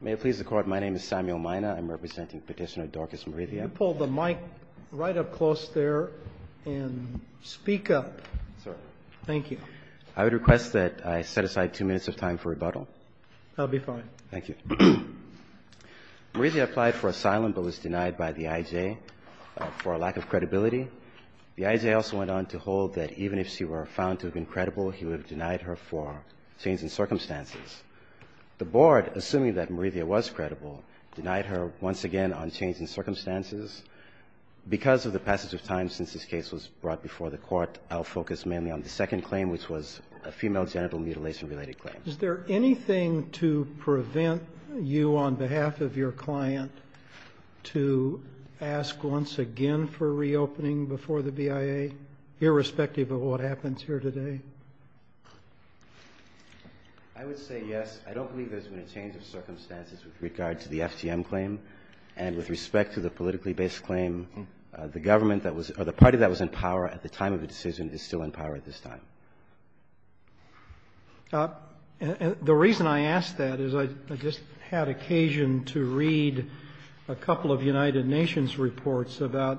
May it please the Court, my name is Samuel Mina. I'm representing Petitioner Dorcas Morithia. Could you pull the mic right up close there and speak up? Thank you. I would request that I set aside two minutes of time for rebuttal. That would be fine. Thank you. Morithia applied for asylum but was denied by the IJ for a lack of credibility. The IJ also went on to hold that even if she were found to have been credible, he would have denied her for change in circumstances. The Board, assuming that Morithia was credible, denied her once again on change in circumstances. Because of the passage of time since this case was brought before the Court, I'll focus mainly on the second claim, which was a female genital mutilation related claim. Is there anything to prevent you on behalf of your client to ask once again for reopening before the BIA, irrespective of what happens here today? I would say yes. I don't believe there's been a change of circumstances with regard to the FTM claim. And with respect to the politically based claim, the government that was or the party that was in power at the time of the decision is still in power at this time. The reason I ask that is I just had occasion to read a couple of United Nations reports about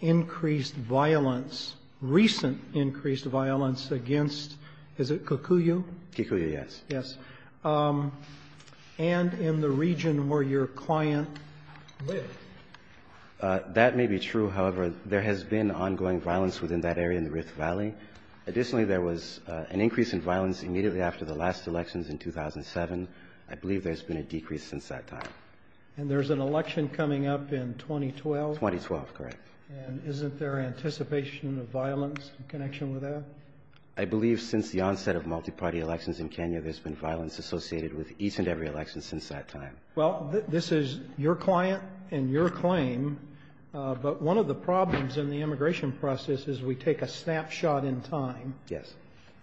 increased violence, recent increased violence against, is it Kikuyu? Kikuyu, yes. Yes. And in the region where your client lived. That may be true. However, there has been ongoing violence within that area in the Rift Valley. Additionally, there was an increase in violence immediately after the last elections in 2007. I believe there's been a decrease since that time. And there's an election coming up in 2012? 2012, correct. And isn't there anticipation of violence in connection with that? I believe since the onset of multi-party elections in Kenya, there's been violence associated with each and every election since that time. Well, this is your client and your claim. But one of the problems in the immigration process is we take a snapshot in time. Yes.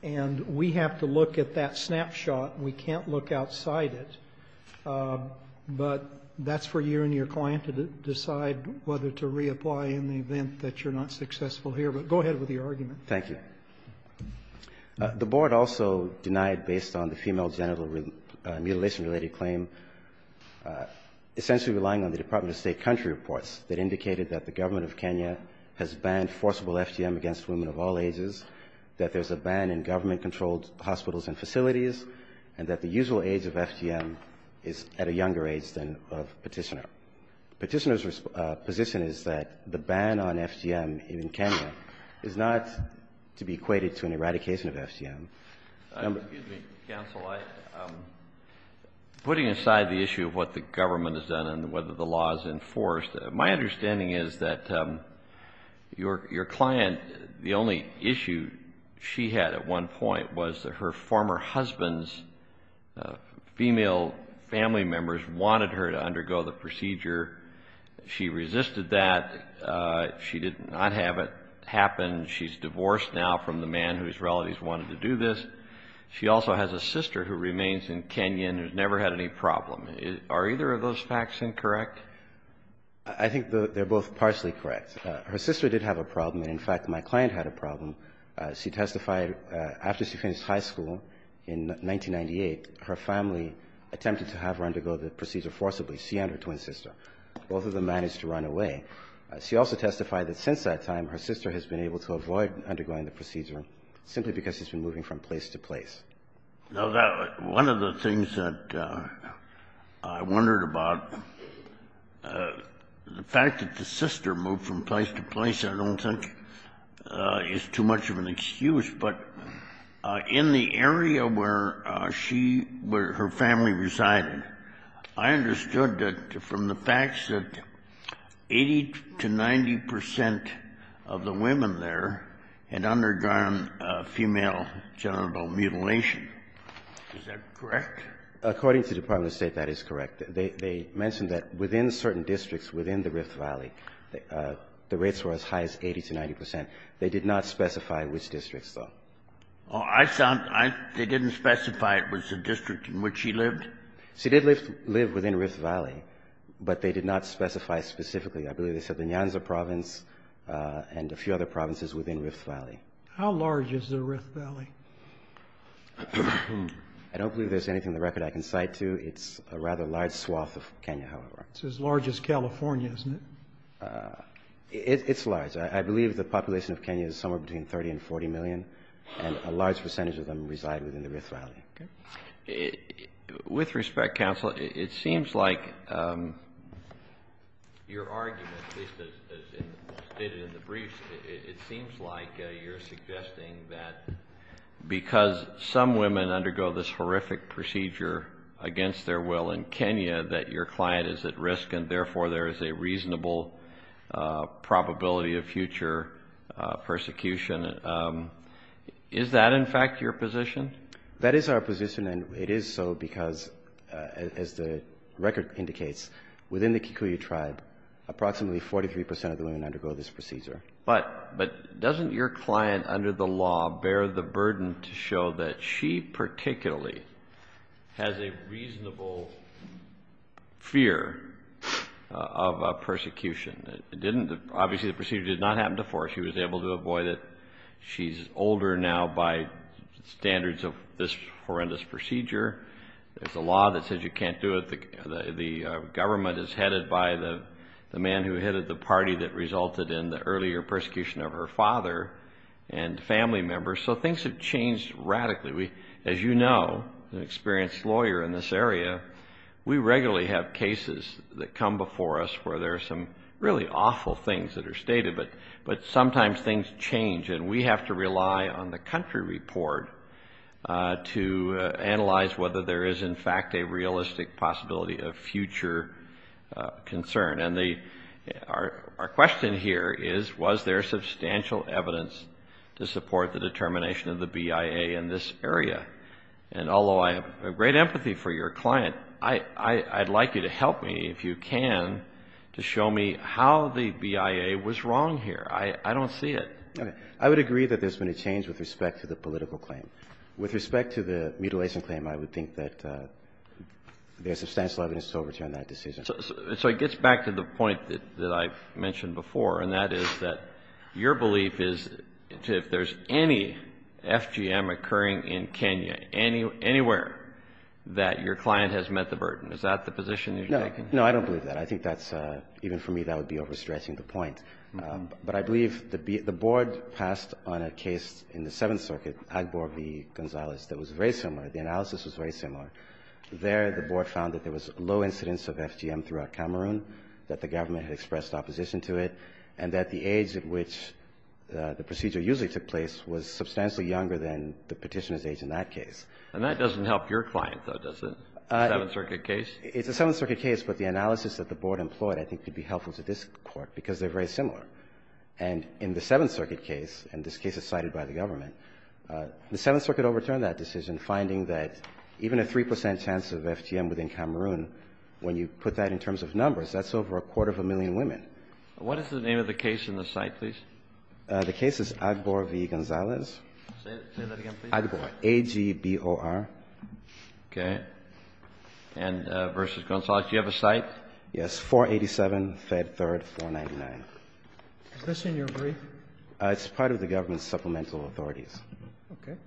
And we have to look at that snapshot. We can't look outside it. But that's for you and your client to decide whether to reapply in the event that you're not successful here. But go ahead with your argument. Thank you. The board also denied, based on the female genital mutilation-related claim, essentially relying on the Department of State country reports that indicated that the government of Kenya has banned forcible FGM against women of all ages, that there's a ban in government-controlled hospitals and facilities, and that the usual age of FGM is at a younger age than of Petitioner. Petitioner's position is that the ban on FGM in Kenya is not to be equated to an eradication of FGM. Excuse me, counsel. Putting aside the issue of what the government has done and whether the law is enforced, my understanding is that your client, the only issue she had at one point was that her former husband's female family members wanted her to undergo the procedure. She resisted that. She did not have it happen. She's divorced now from the man whose relatives wanted to do this. She also has a sister who remains in Kenya and has never had any problem. Are either of those facts incorrect? I think they're both partially correct. Her sister did have a problem, and in fact my client had a problem. She testified after she finished high school in 1998, her family attempted to have her undergo the procedure forcibly. She and her twin sister. Both of them managed to run away. She also testified that since that time her sister has been able to avoid undergoing the procedure, simply because she's been moving from place to place. Now, one of the things that I wondered about, the fact that the sister moved from place to place, I don't think is too much of an excuse, but in the area where she, where her family resided, I understood that from the facts that 80 to 90 percent of the women there had undergone female genital mutilation. Is that correct? According to the Department of State, that is correct. They mentioned that within certain districts within the Rift Valley, the rates were as high as 80 to 90 percent. They did not specify which districts, though. I thought they didn't specify it was the district in which she lived? She did live within Rift Valley, but they did not specify specifically. I believe they said the Nyanza province and a few other provinces within Rift Valley. How large is the Rift Valley? I don't believe there's anything in the record I can cite to. It's a rather large swath of Kenya, however. It's as large as California, isn't it? It's large. I believe the population of Kenya is somewhere between 30 and 40 million, and a large percentage of them reside within the Rift Valley. With respect, counsel, it seems like your argument, at least as stated in the briefs, it seems like you're suggesting that because some women undergo this horrific procedure against their will in Kenya, that your client is at risk and therefore there is a reasonable probability of future persecution. Is that, in fact, your position? That is our position, and it is so because, as the record indicates, within the Kikuyu tribe approximately 43 percent of the women undergo this procedure. But doesn't your client under the law bear the burden to show that she particularly has a reasonable fear of persecution? Obviously the procedure did not happen before. She was able to avoid it. She's older now by standards of this horrendous procedure. There's a law that says you can't do it. The government is headed by the man who headed the party that resulted in the earlier persecution of her father and family members. So things have changed radically. As you know, an experienced lawyer in this area, we regularly have cases that come before us where there are some really awful things that are stated, but sometimes things change and we have to rely on the country report to analyze whether there is, in fact, a realistic possibility of future concern. And our question here is, was there substantial evidence to support the determination of the BIA in this area? And although I have great empathy for your client, I'd like you to help me, if you can, to show me how the BIA was wrong here. I don't see it. Okay. I would agree that there's been a change with respect to the political claim. With respect to the mutilation claim, I would think that there's substantial evidence to overturn that decision. So it gets back to the point that I've mentioned before, and that is that your belief is if there's any FGM occurring in Kenya, anywhere that your client has met the burden, is that the position you're taking? No. No, I don't believe that. I think that's, even for me, that would be overstretching the point. But I believe the board passed on a case in the Seventh Circuit, Agbor v. Gonzalez, that was very similar. The analysis was very similar. There, the board found that there was low incidence of FGM throughout Cameroon, that the government had expressed opposition to it, and that the age at which the procedure usually took place was substantially younger than the Petitioner's age in that case. And that doesn't help your client, though, does it, the Seventh Circuit case? It's the Seventh Circuit case, but the analysis that the board employed, I think, could be helpful to this Court, because they're very similar. And in the Seventh Circuit case, and this case is cited by the government, the Seventh Circuit overturned that decision, finding that even a 3 percent chance of FGM within Cameroon, when you put that in terms of numbers, that's over a quarter of a million women. What is the name of the case in the cite, please? The case is Agbor v. Gonzalez. Say that again, please. Agbor, A-G-B-O-R. Okay. And versus Gonzalez, do you have a cite? Yes, 487, Fed 3rd, 499. Is this in your brief? It's part of the government's supplemental authorities. Okay.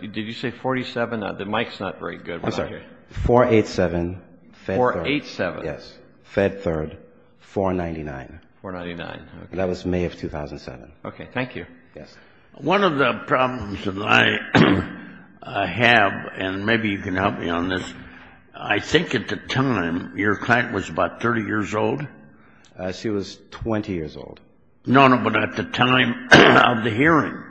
Did you say 47? The mic's not very good. I'm sorry. 487, Fed 3rd. 487. Yes. Fed 3rd, 499. 499. Okay. That was May of 2007. Okay. Thank you. Yes. One of the problems that I have, and maybe you can help me on this, I think at the time your client was about 30 years old? She was 20 years old. No, no, but at the time of the hearing.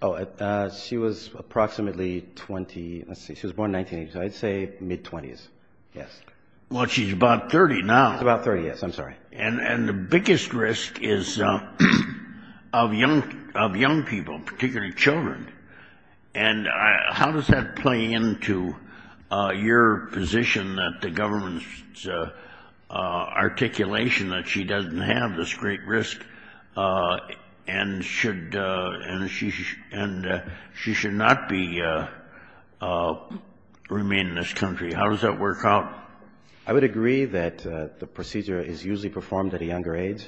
Oh, she was approximately 20. Let's see. She was born in the 1980s, so I'd say mid-20s. Yes. Well, she's about 30 now. She's about 30, yes. I'm sorry. And the biggest risk is of young people, particularly children. And how does that play into your position that the government's articulation that she doesn't have this great risk and she should not remain in this country? How does that work out? I would agree that the procedure is usually performed at a younger age.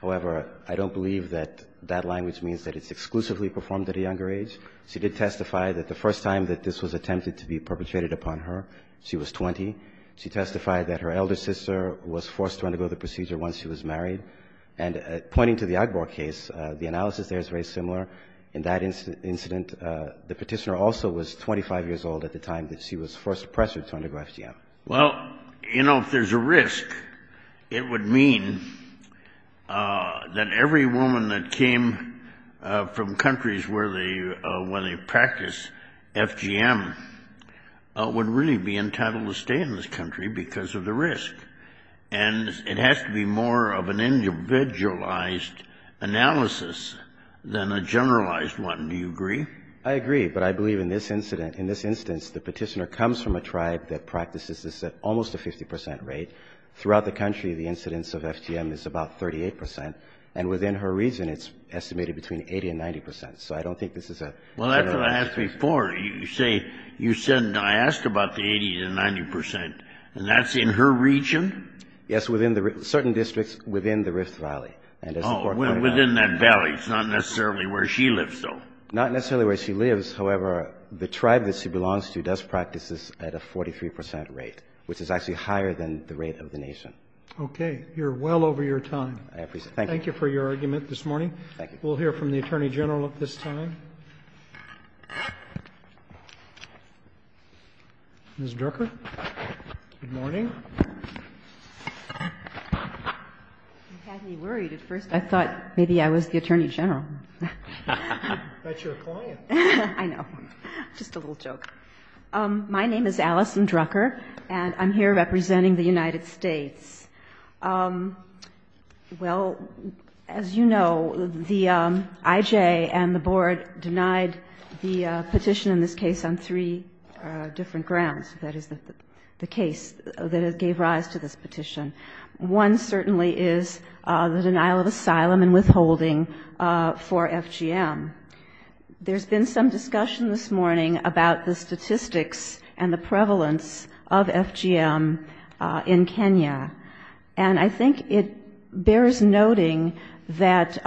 However, I don't believe that that language means that it's exclusively performed at a younger age. She did testify that the first time that this was attempted to be perpetrated upon her, she was 20. She testified that her elder sister was forced to undergo the procedure once she was married. And pointing to the Agbor case, the analysis there is very similar. In that incident, the Petitioner also was 25 years old at the time that she was forced to press her to undergo FGM. Well, you know, if there's a risk, it would mean that every woman that came from countries where they practice FGM would really be entitled to stay in this country because of the risk. And it has to be more of an individualized analysis than a generalized one. Do you agree? I agree, but I believe in this incident, in this instance, the Petitioner comes from a tribe that practices this at almost a 50 percent rate. Throughout the country, the incidence of FGM is about 38 percent. And within her region, it's estimated between 80 and 90 percent. So I don't think this is a... Well, that's what I asked before. You say, you said, I asked about the 80 to 90 percent, and that's in her region? Yes, within the, certain districts within the Rift Valley. Oh, within that valley. It's not necessarily where she lives, though. Not necessarily where she lives. However, the tribe that she belongs to does practice this at a 43 percent rate, which is actually higher than the rate of the nation. Okay. You're well over your time. I appreciate it. Thank you. Thank you for your argument this morning. Thank you. We'll hear from the Attorney General at this time. Ms. Drucker? Good morning. You had me worried at first. I thought maybe I was the Attorney General. That's your client. I know. Just a little joke. My name is Allison Drucker, and I'm here representing the United States. Well, as you know, the IJ and the Board did not approve of the Petitioner's request to deny the petition in this case on three different grounds. That is, the case that gave rise to this petition. One certainly is the denial of asylum and withholding for FGM. There's been some discussion this morning about the statistics and the prevalence of FGM in Kenya, and I think it bears noting that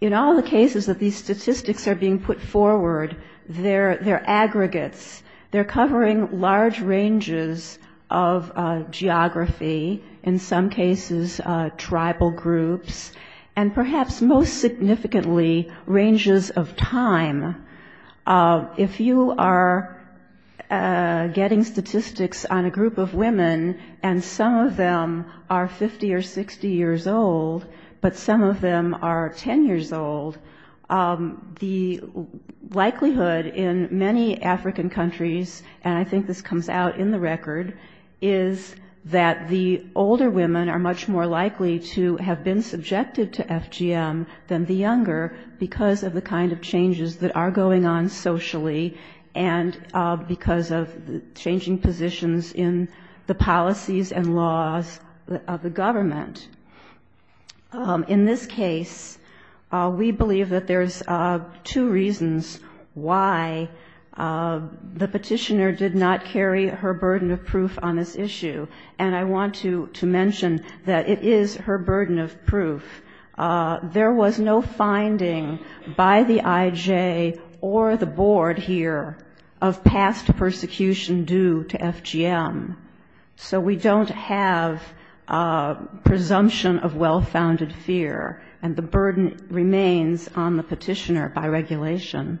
in all the cases that the FGM petitioner has denied, these statistics are being put forward, they're aggregates, they're covering large ranges of geography, in some cases tribal groups, and perhaps most significantly, ranges of time. If you are getting statistics on a group of women, and some of them are 50 or 60 years old, but some of them are 10 years old, the likelihood in many African countries, and I think this comes out in the record, is that the older women are much more likely to have been subjected to FGM than the younger, because of the kind of changes that are going on socially, and because of changing positions in the policies and laws of the government. In this case, we believe that there's two reasons why the petitioner did not carry her burden of proof on this issue, and I want to mention that it is her burden of proof. There was no finding by the IJ or the board here of past persecution due to FGM. So we don't have presumption of well-founded fear, and the burden remains on the petitioner by regulation.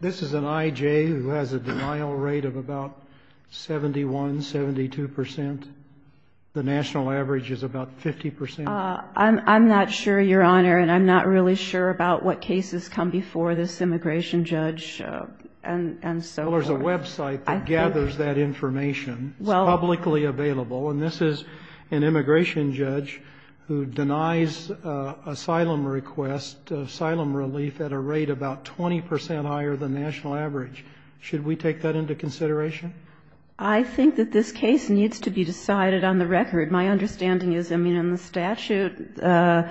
This is an IJ who has a denial rate of about 71, 72 percent. The national average is about 50 percent. I'm not sure, Your Honor, and I'm not really sure about what cases come before this immigration judge, and so forth. But there is a website that gathers that information. It's publicly available, and this is an immigration judge who denies asylum request, asylum relief at a rate about 20 percent higher than national average. Should we take that into consideration? I think that this case needs to be decided on the record. My understanding is, I mean, in the statute, the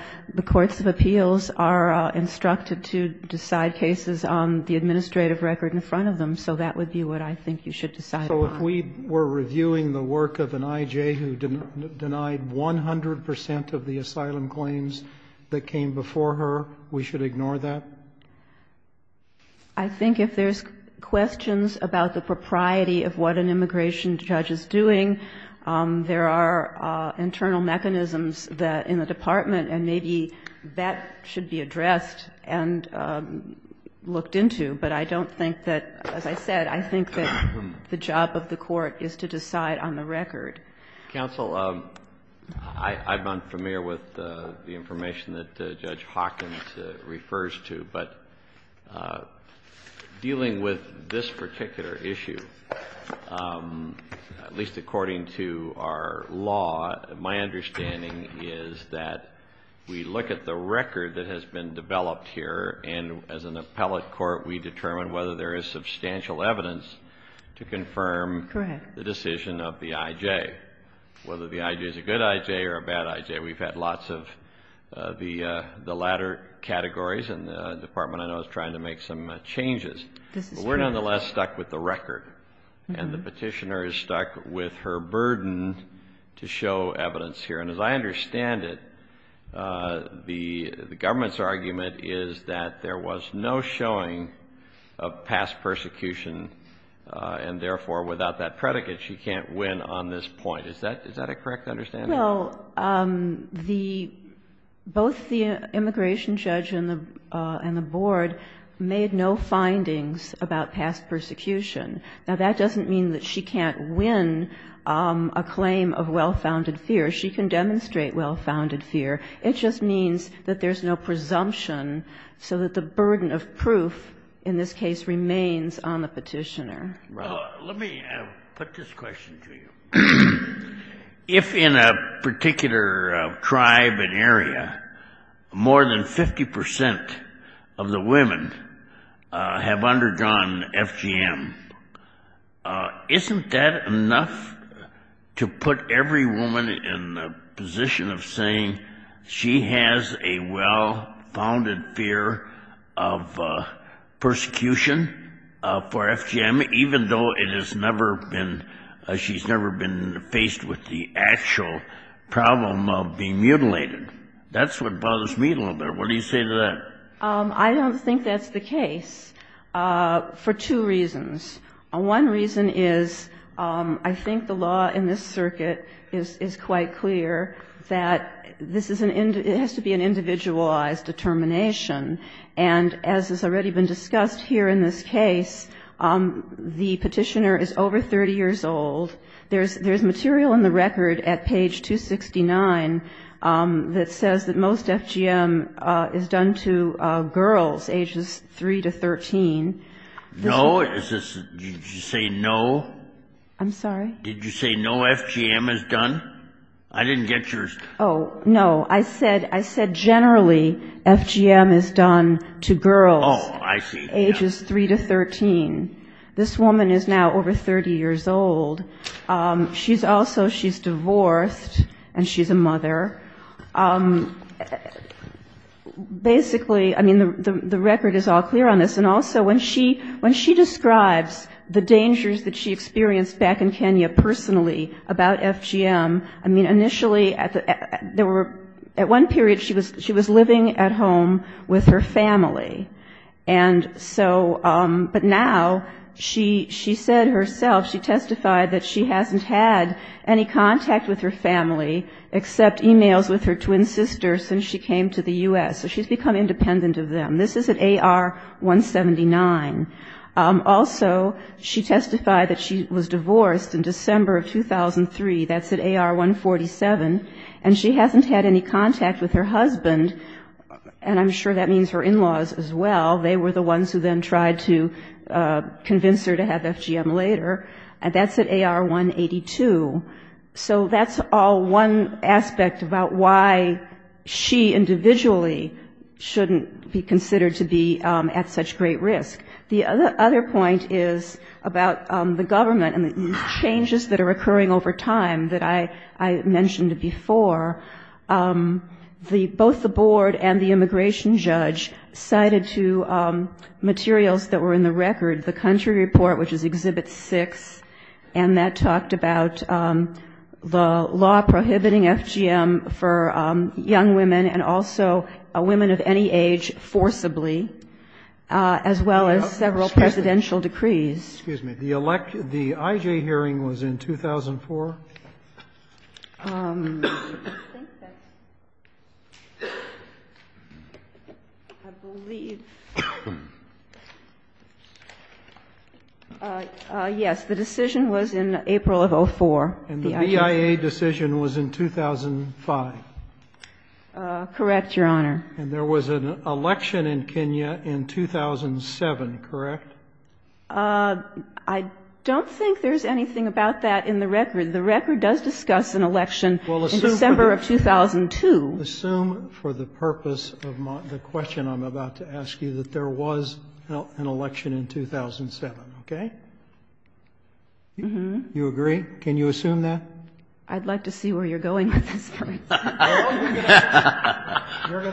courts of appeals are instructed to decide cases on the administrative record in front of them, so that would be what I think you should decide upon. So if we were reviewing the work of an IJ who denied 100 percent of the asylum claims that came before her, we should ignore that? I think if there's questions about the propriety of what an immigration judge is doing, there are internal mechanisms in the department, and maybe that should be addressed and looked into, but I don't think that, as I said, I think that the job of the court is to decide on the record. Counsel, I'm unfamiliar with the information that Judge Hawkins refers to, but dealing with this particular issue, at least according to our law, my understanding is that we look at the record that has been developed here, and as an appellate court, we determine whether there is substantial evidence to confirm the decision of the IJ, whether the IJ is a good IJ or a bad IJ. We've had lots of the latter categories, and the department, I know, is trying to make some changes. But we're nonetheless stuck with the record, and the Petitioner is stuck with her burden to show evidence here. And as I understand it, the government's argument is that there was no showing of past persecution, and therefore, without that predicate, she can't win on this point. Is that a correct understanding? Well, both the immigration judge and the board made no findings about past persecution. Now, that doesn't mean that she can't win a claim of well-founded fear. She can demonstrate well-founded fear. It just means that there's no presumption, so that the burden of proof in this case remains on the Petitioner. Let me put this question to you. If in a particular tribe, an area, more than 50 percent of the women have undergone FGM, isn't that enough to put every woman in the position of saying she has a well-founded fear of persecution for FGM, even though it has never been, she's never been faced with the actual problem of being mutilated? That's what bothers me a little bit. What do you say to that? I don't think that's the case for two reasons. One reason is I think the law in this circuit is quite clear that this is an, it has to be an individualized determination, and as has already been discussed here in this case, the Petitioner is over 30 years old. There's material in the record at page 269 that says that most FGM is done to girls ages 3 to 13. No, is this, did you say no? I'm sorry? Did you say no FGM is done? I didn't get yours. Oh, no, I said generally FGM is done to girls ages 3 to 13. This woman is now over 30 years old. She's also, she's divorced, and she's a mother. Basically, I mean, the record is all clear on this. And also, when she describes the dangers that she experienced back in Kenya personally about FGM, I mean, initially, at one period, she was living at home with her family. And so, but now, she said herself, she testified that she hasn't had any contact with her family, except e-mails with her family. She hasn't had any contact with her twin sister since she came to the U.S., so she's become independent of them. This is at AR 179. Also, she testified that she was divorced in December of 2003. That's at AR 147. And she hasn't had any contact with her husband, and I'm sure that means her in-laws as well. They were the ones who then tried to convince her to have FGM later. And that's at AR 182. So that's all one aspect about why she individually shouldn't be considered to be at such great risk. The other point is about the government and the changes that are occurring over time that I mentioned before. Both the board and the immigration judge cited two materials that were in the record, the country report, which is Exhibit 6, and that talked about the law prohibiting FGM for young women and also women of any age forcibly, as well as several presidential decrees. And that's at AR 179. And that's at AR 147. Excuse me. The IJ hearing was in 2004? I don't think there's anything about that in the record. The record does discuss an election in December of 2002. Assume for the purpose of the question I'm about to ask you that there was an election in 2007, okay? You agree? Can you assume that? I'd like to see where you're going with this. You're going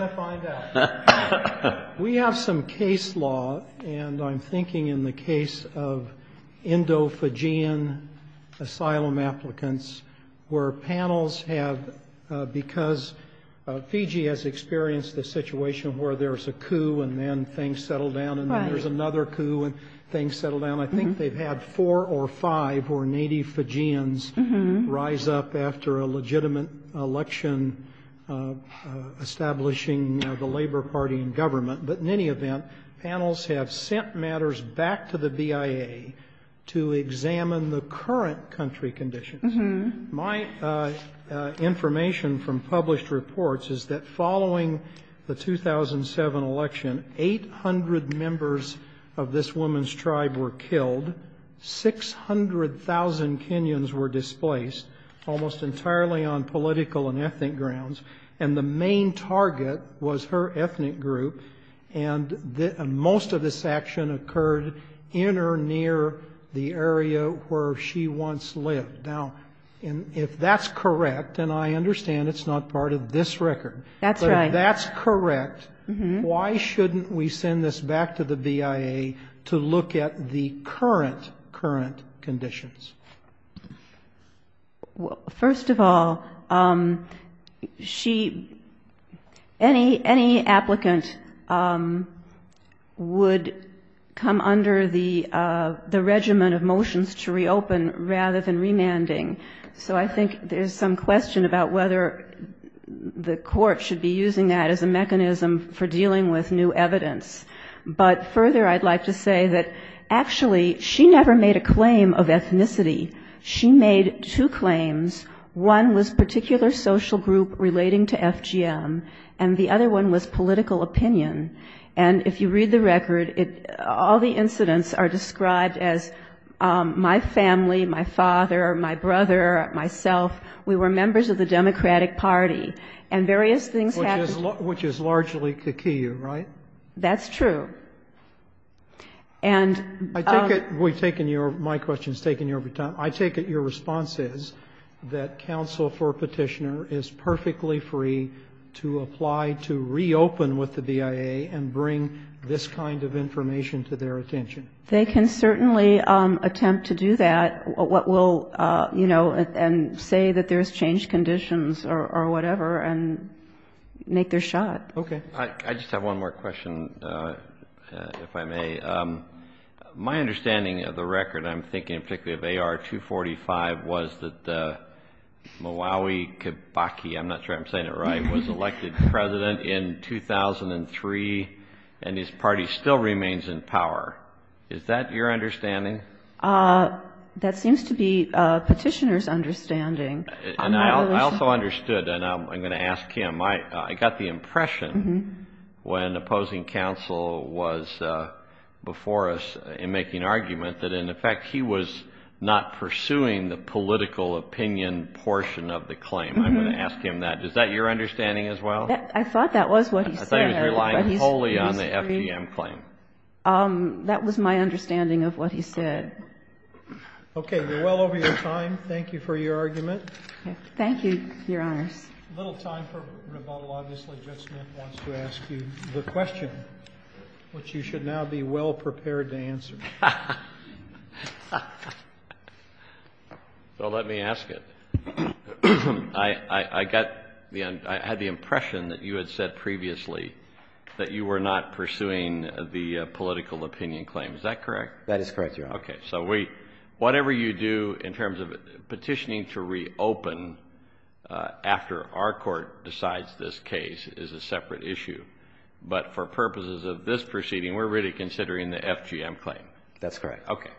to find out. We have some case law, and I'm thinking in the case of Indo-Fijian asylum applicants, where panels have, because Fiji has experienced a situation where there's a coup and then things settle down and then there's another coup and things settle down. I think they've had four or five who are native Fijians rise up after a legitimate election establishing the Labor Party in government. But in any event, panels have sent matters back to the BIA to examine the current country conditions. My information from published reports is that following the 2007 election, 800 members of this woman's tribe were killed. 600,000 Kenyans were displaced, almost entirely on political and ethnic grounds. And the main target was her ethnic group, and most of this action occurred in or near the area where she once lived. Now, if that's correct, and I understand it's not part of this record. That's right. Why shouldn't we send this back to the BIA to look at the current, current conditions? First of all, she, any applicant would come under the regimen of motions to reopen rather than remanding. So I think there's some question about whether the court should be using that as a mechanism for remanding. For dealing with new evidence. But further, I'd like to say that actually, she never made a claim of ethnicity. She made two claims. One was particular social group relating to FGM, and the other one was political opinion. And if you read the record, all the incidents are described as my family, my father, my brother, myself, we were members of the BIA. And I take it your response is that counsel for petitioner is perfectly free to apply to reopen with the BIA and bring this kind of information to their attention. They can certainly attempt to do that, and say that there's changed conditions or whatever, and make their shot. I just have one more question, if I may. My understanding of the record, I'm thinking particularly of AR 245, was that the Malawi Kabaki, I'm not sure I'm saying it right, was elected president in 2003, and his party still remains in power. Is that your understanding? That seems to be petitioner's understanding. I also understood, and I'm going to ask him, I got the impression when opposing counsel was before us in making argument that in effect he was not pursuing the political opinion portion of the claim. I'm going to ask him that. Is that your understanding as well? I thought that was what he said. That was my understanding of what he said. Thank you, Your Honors. Well, let me ask it. I had the impression that you had said previously that you were not pursuing the political opinion claim. Is that correct? That is correct, Your Honor. I'm not sure that the case is open after our court decides this case is a separate issue. But for purposes of this proceeding, we're really considering the FGM claim. That's correct.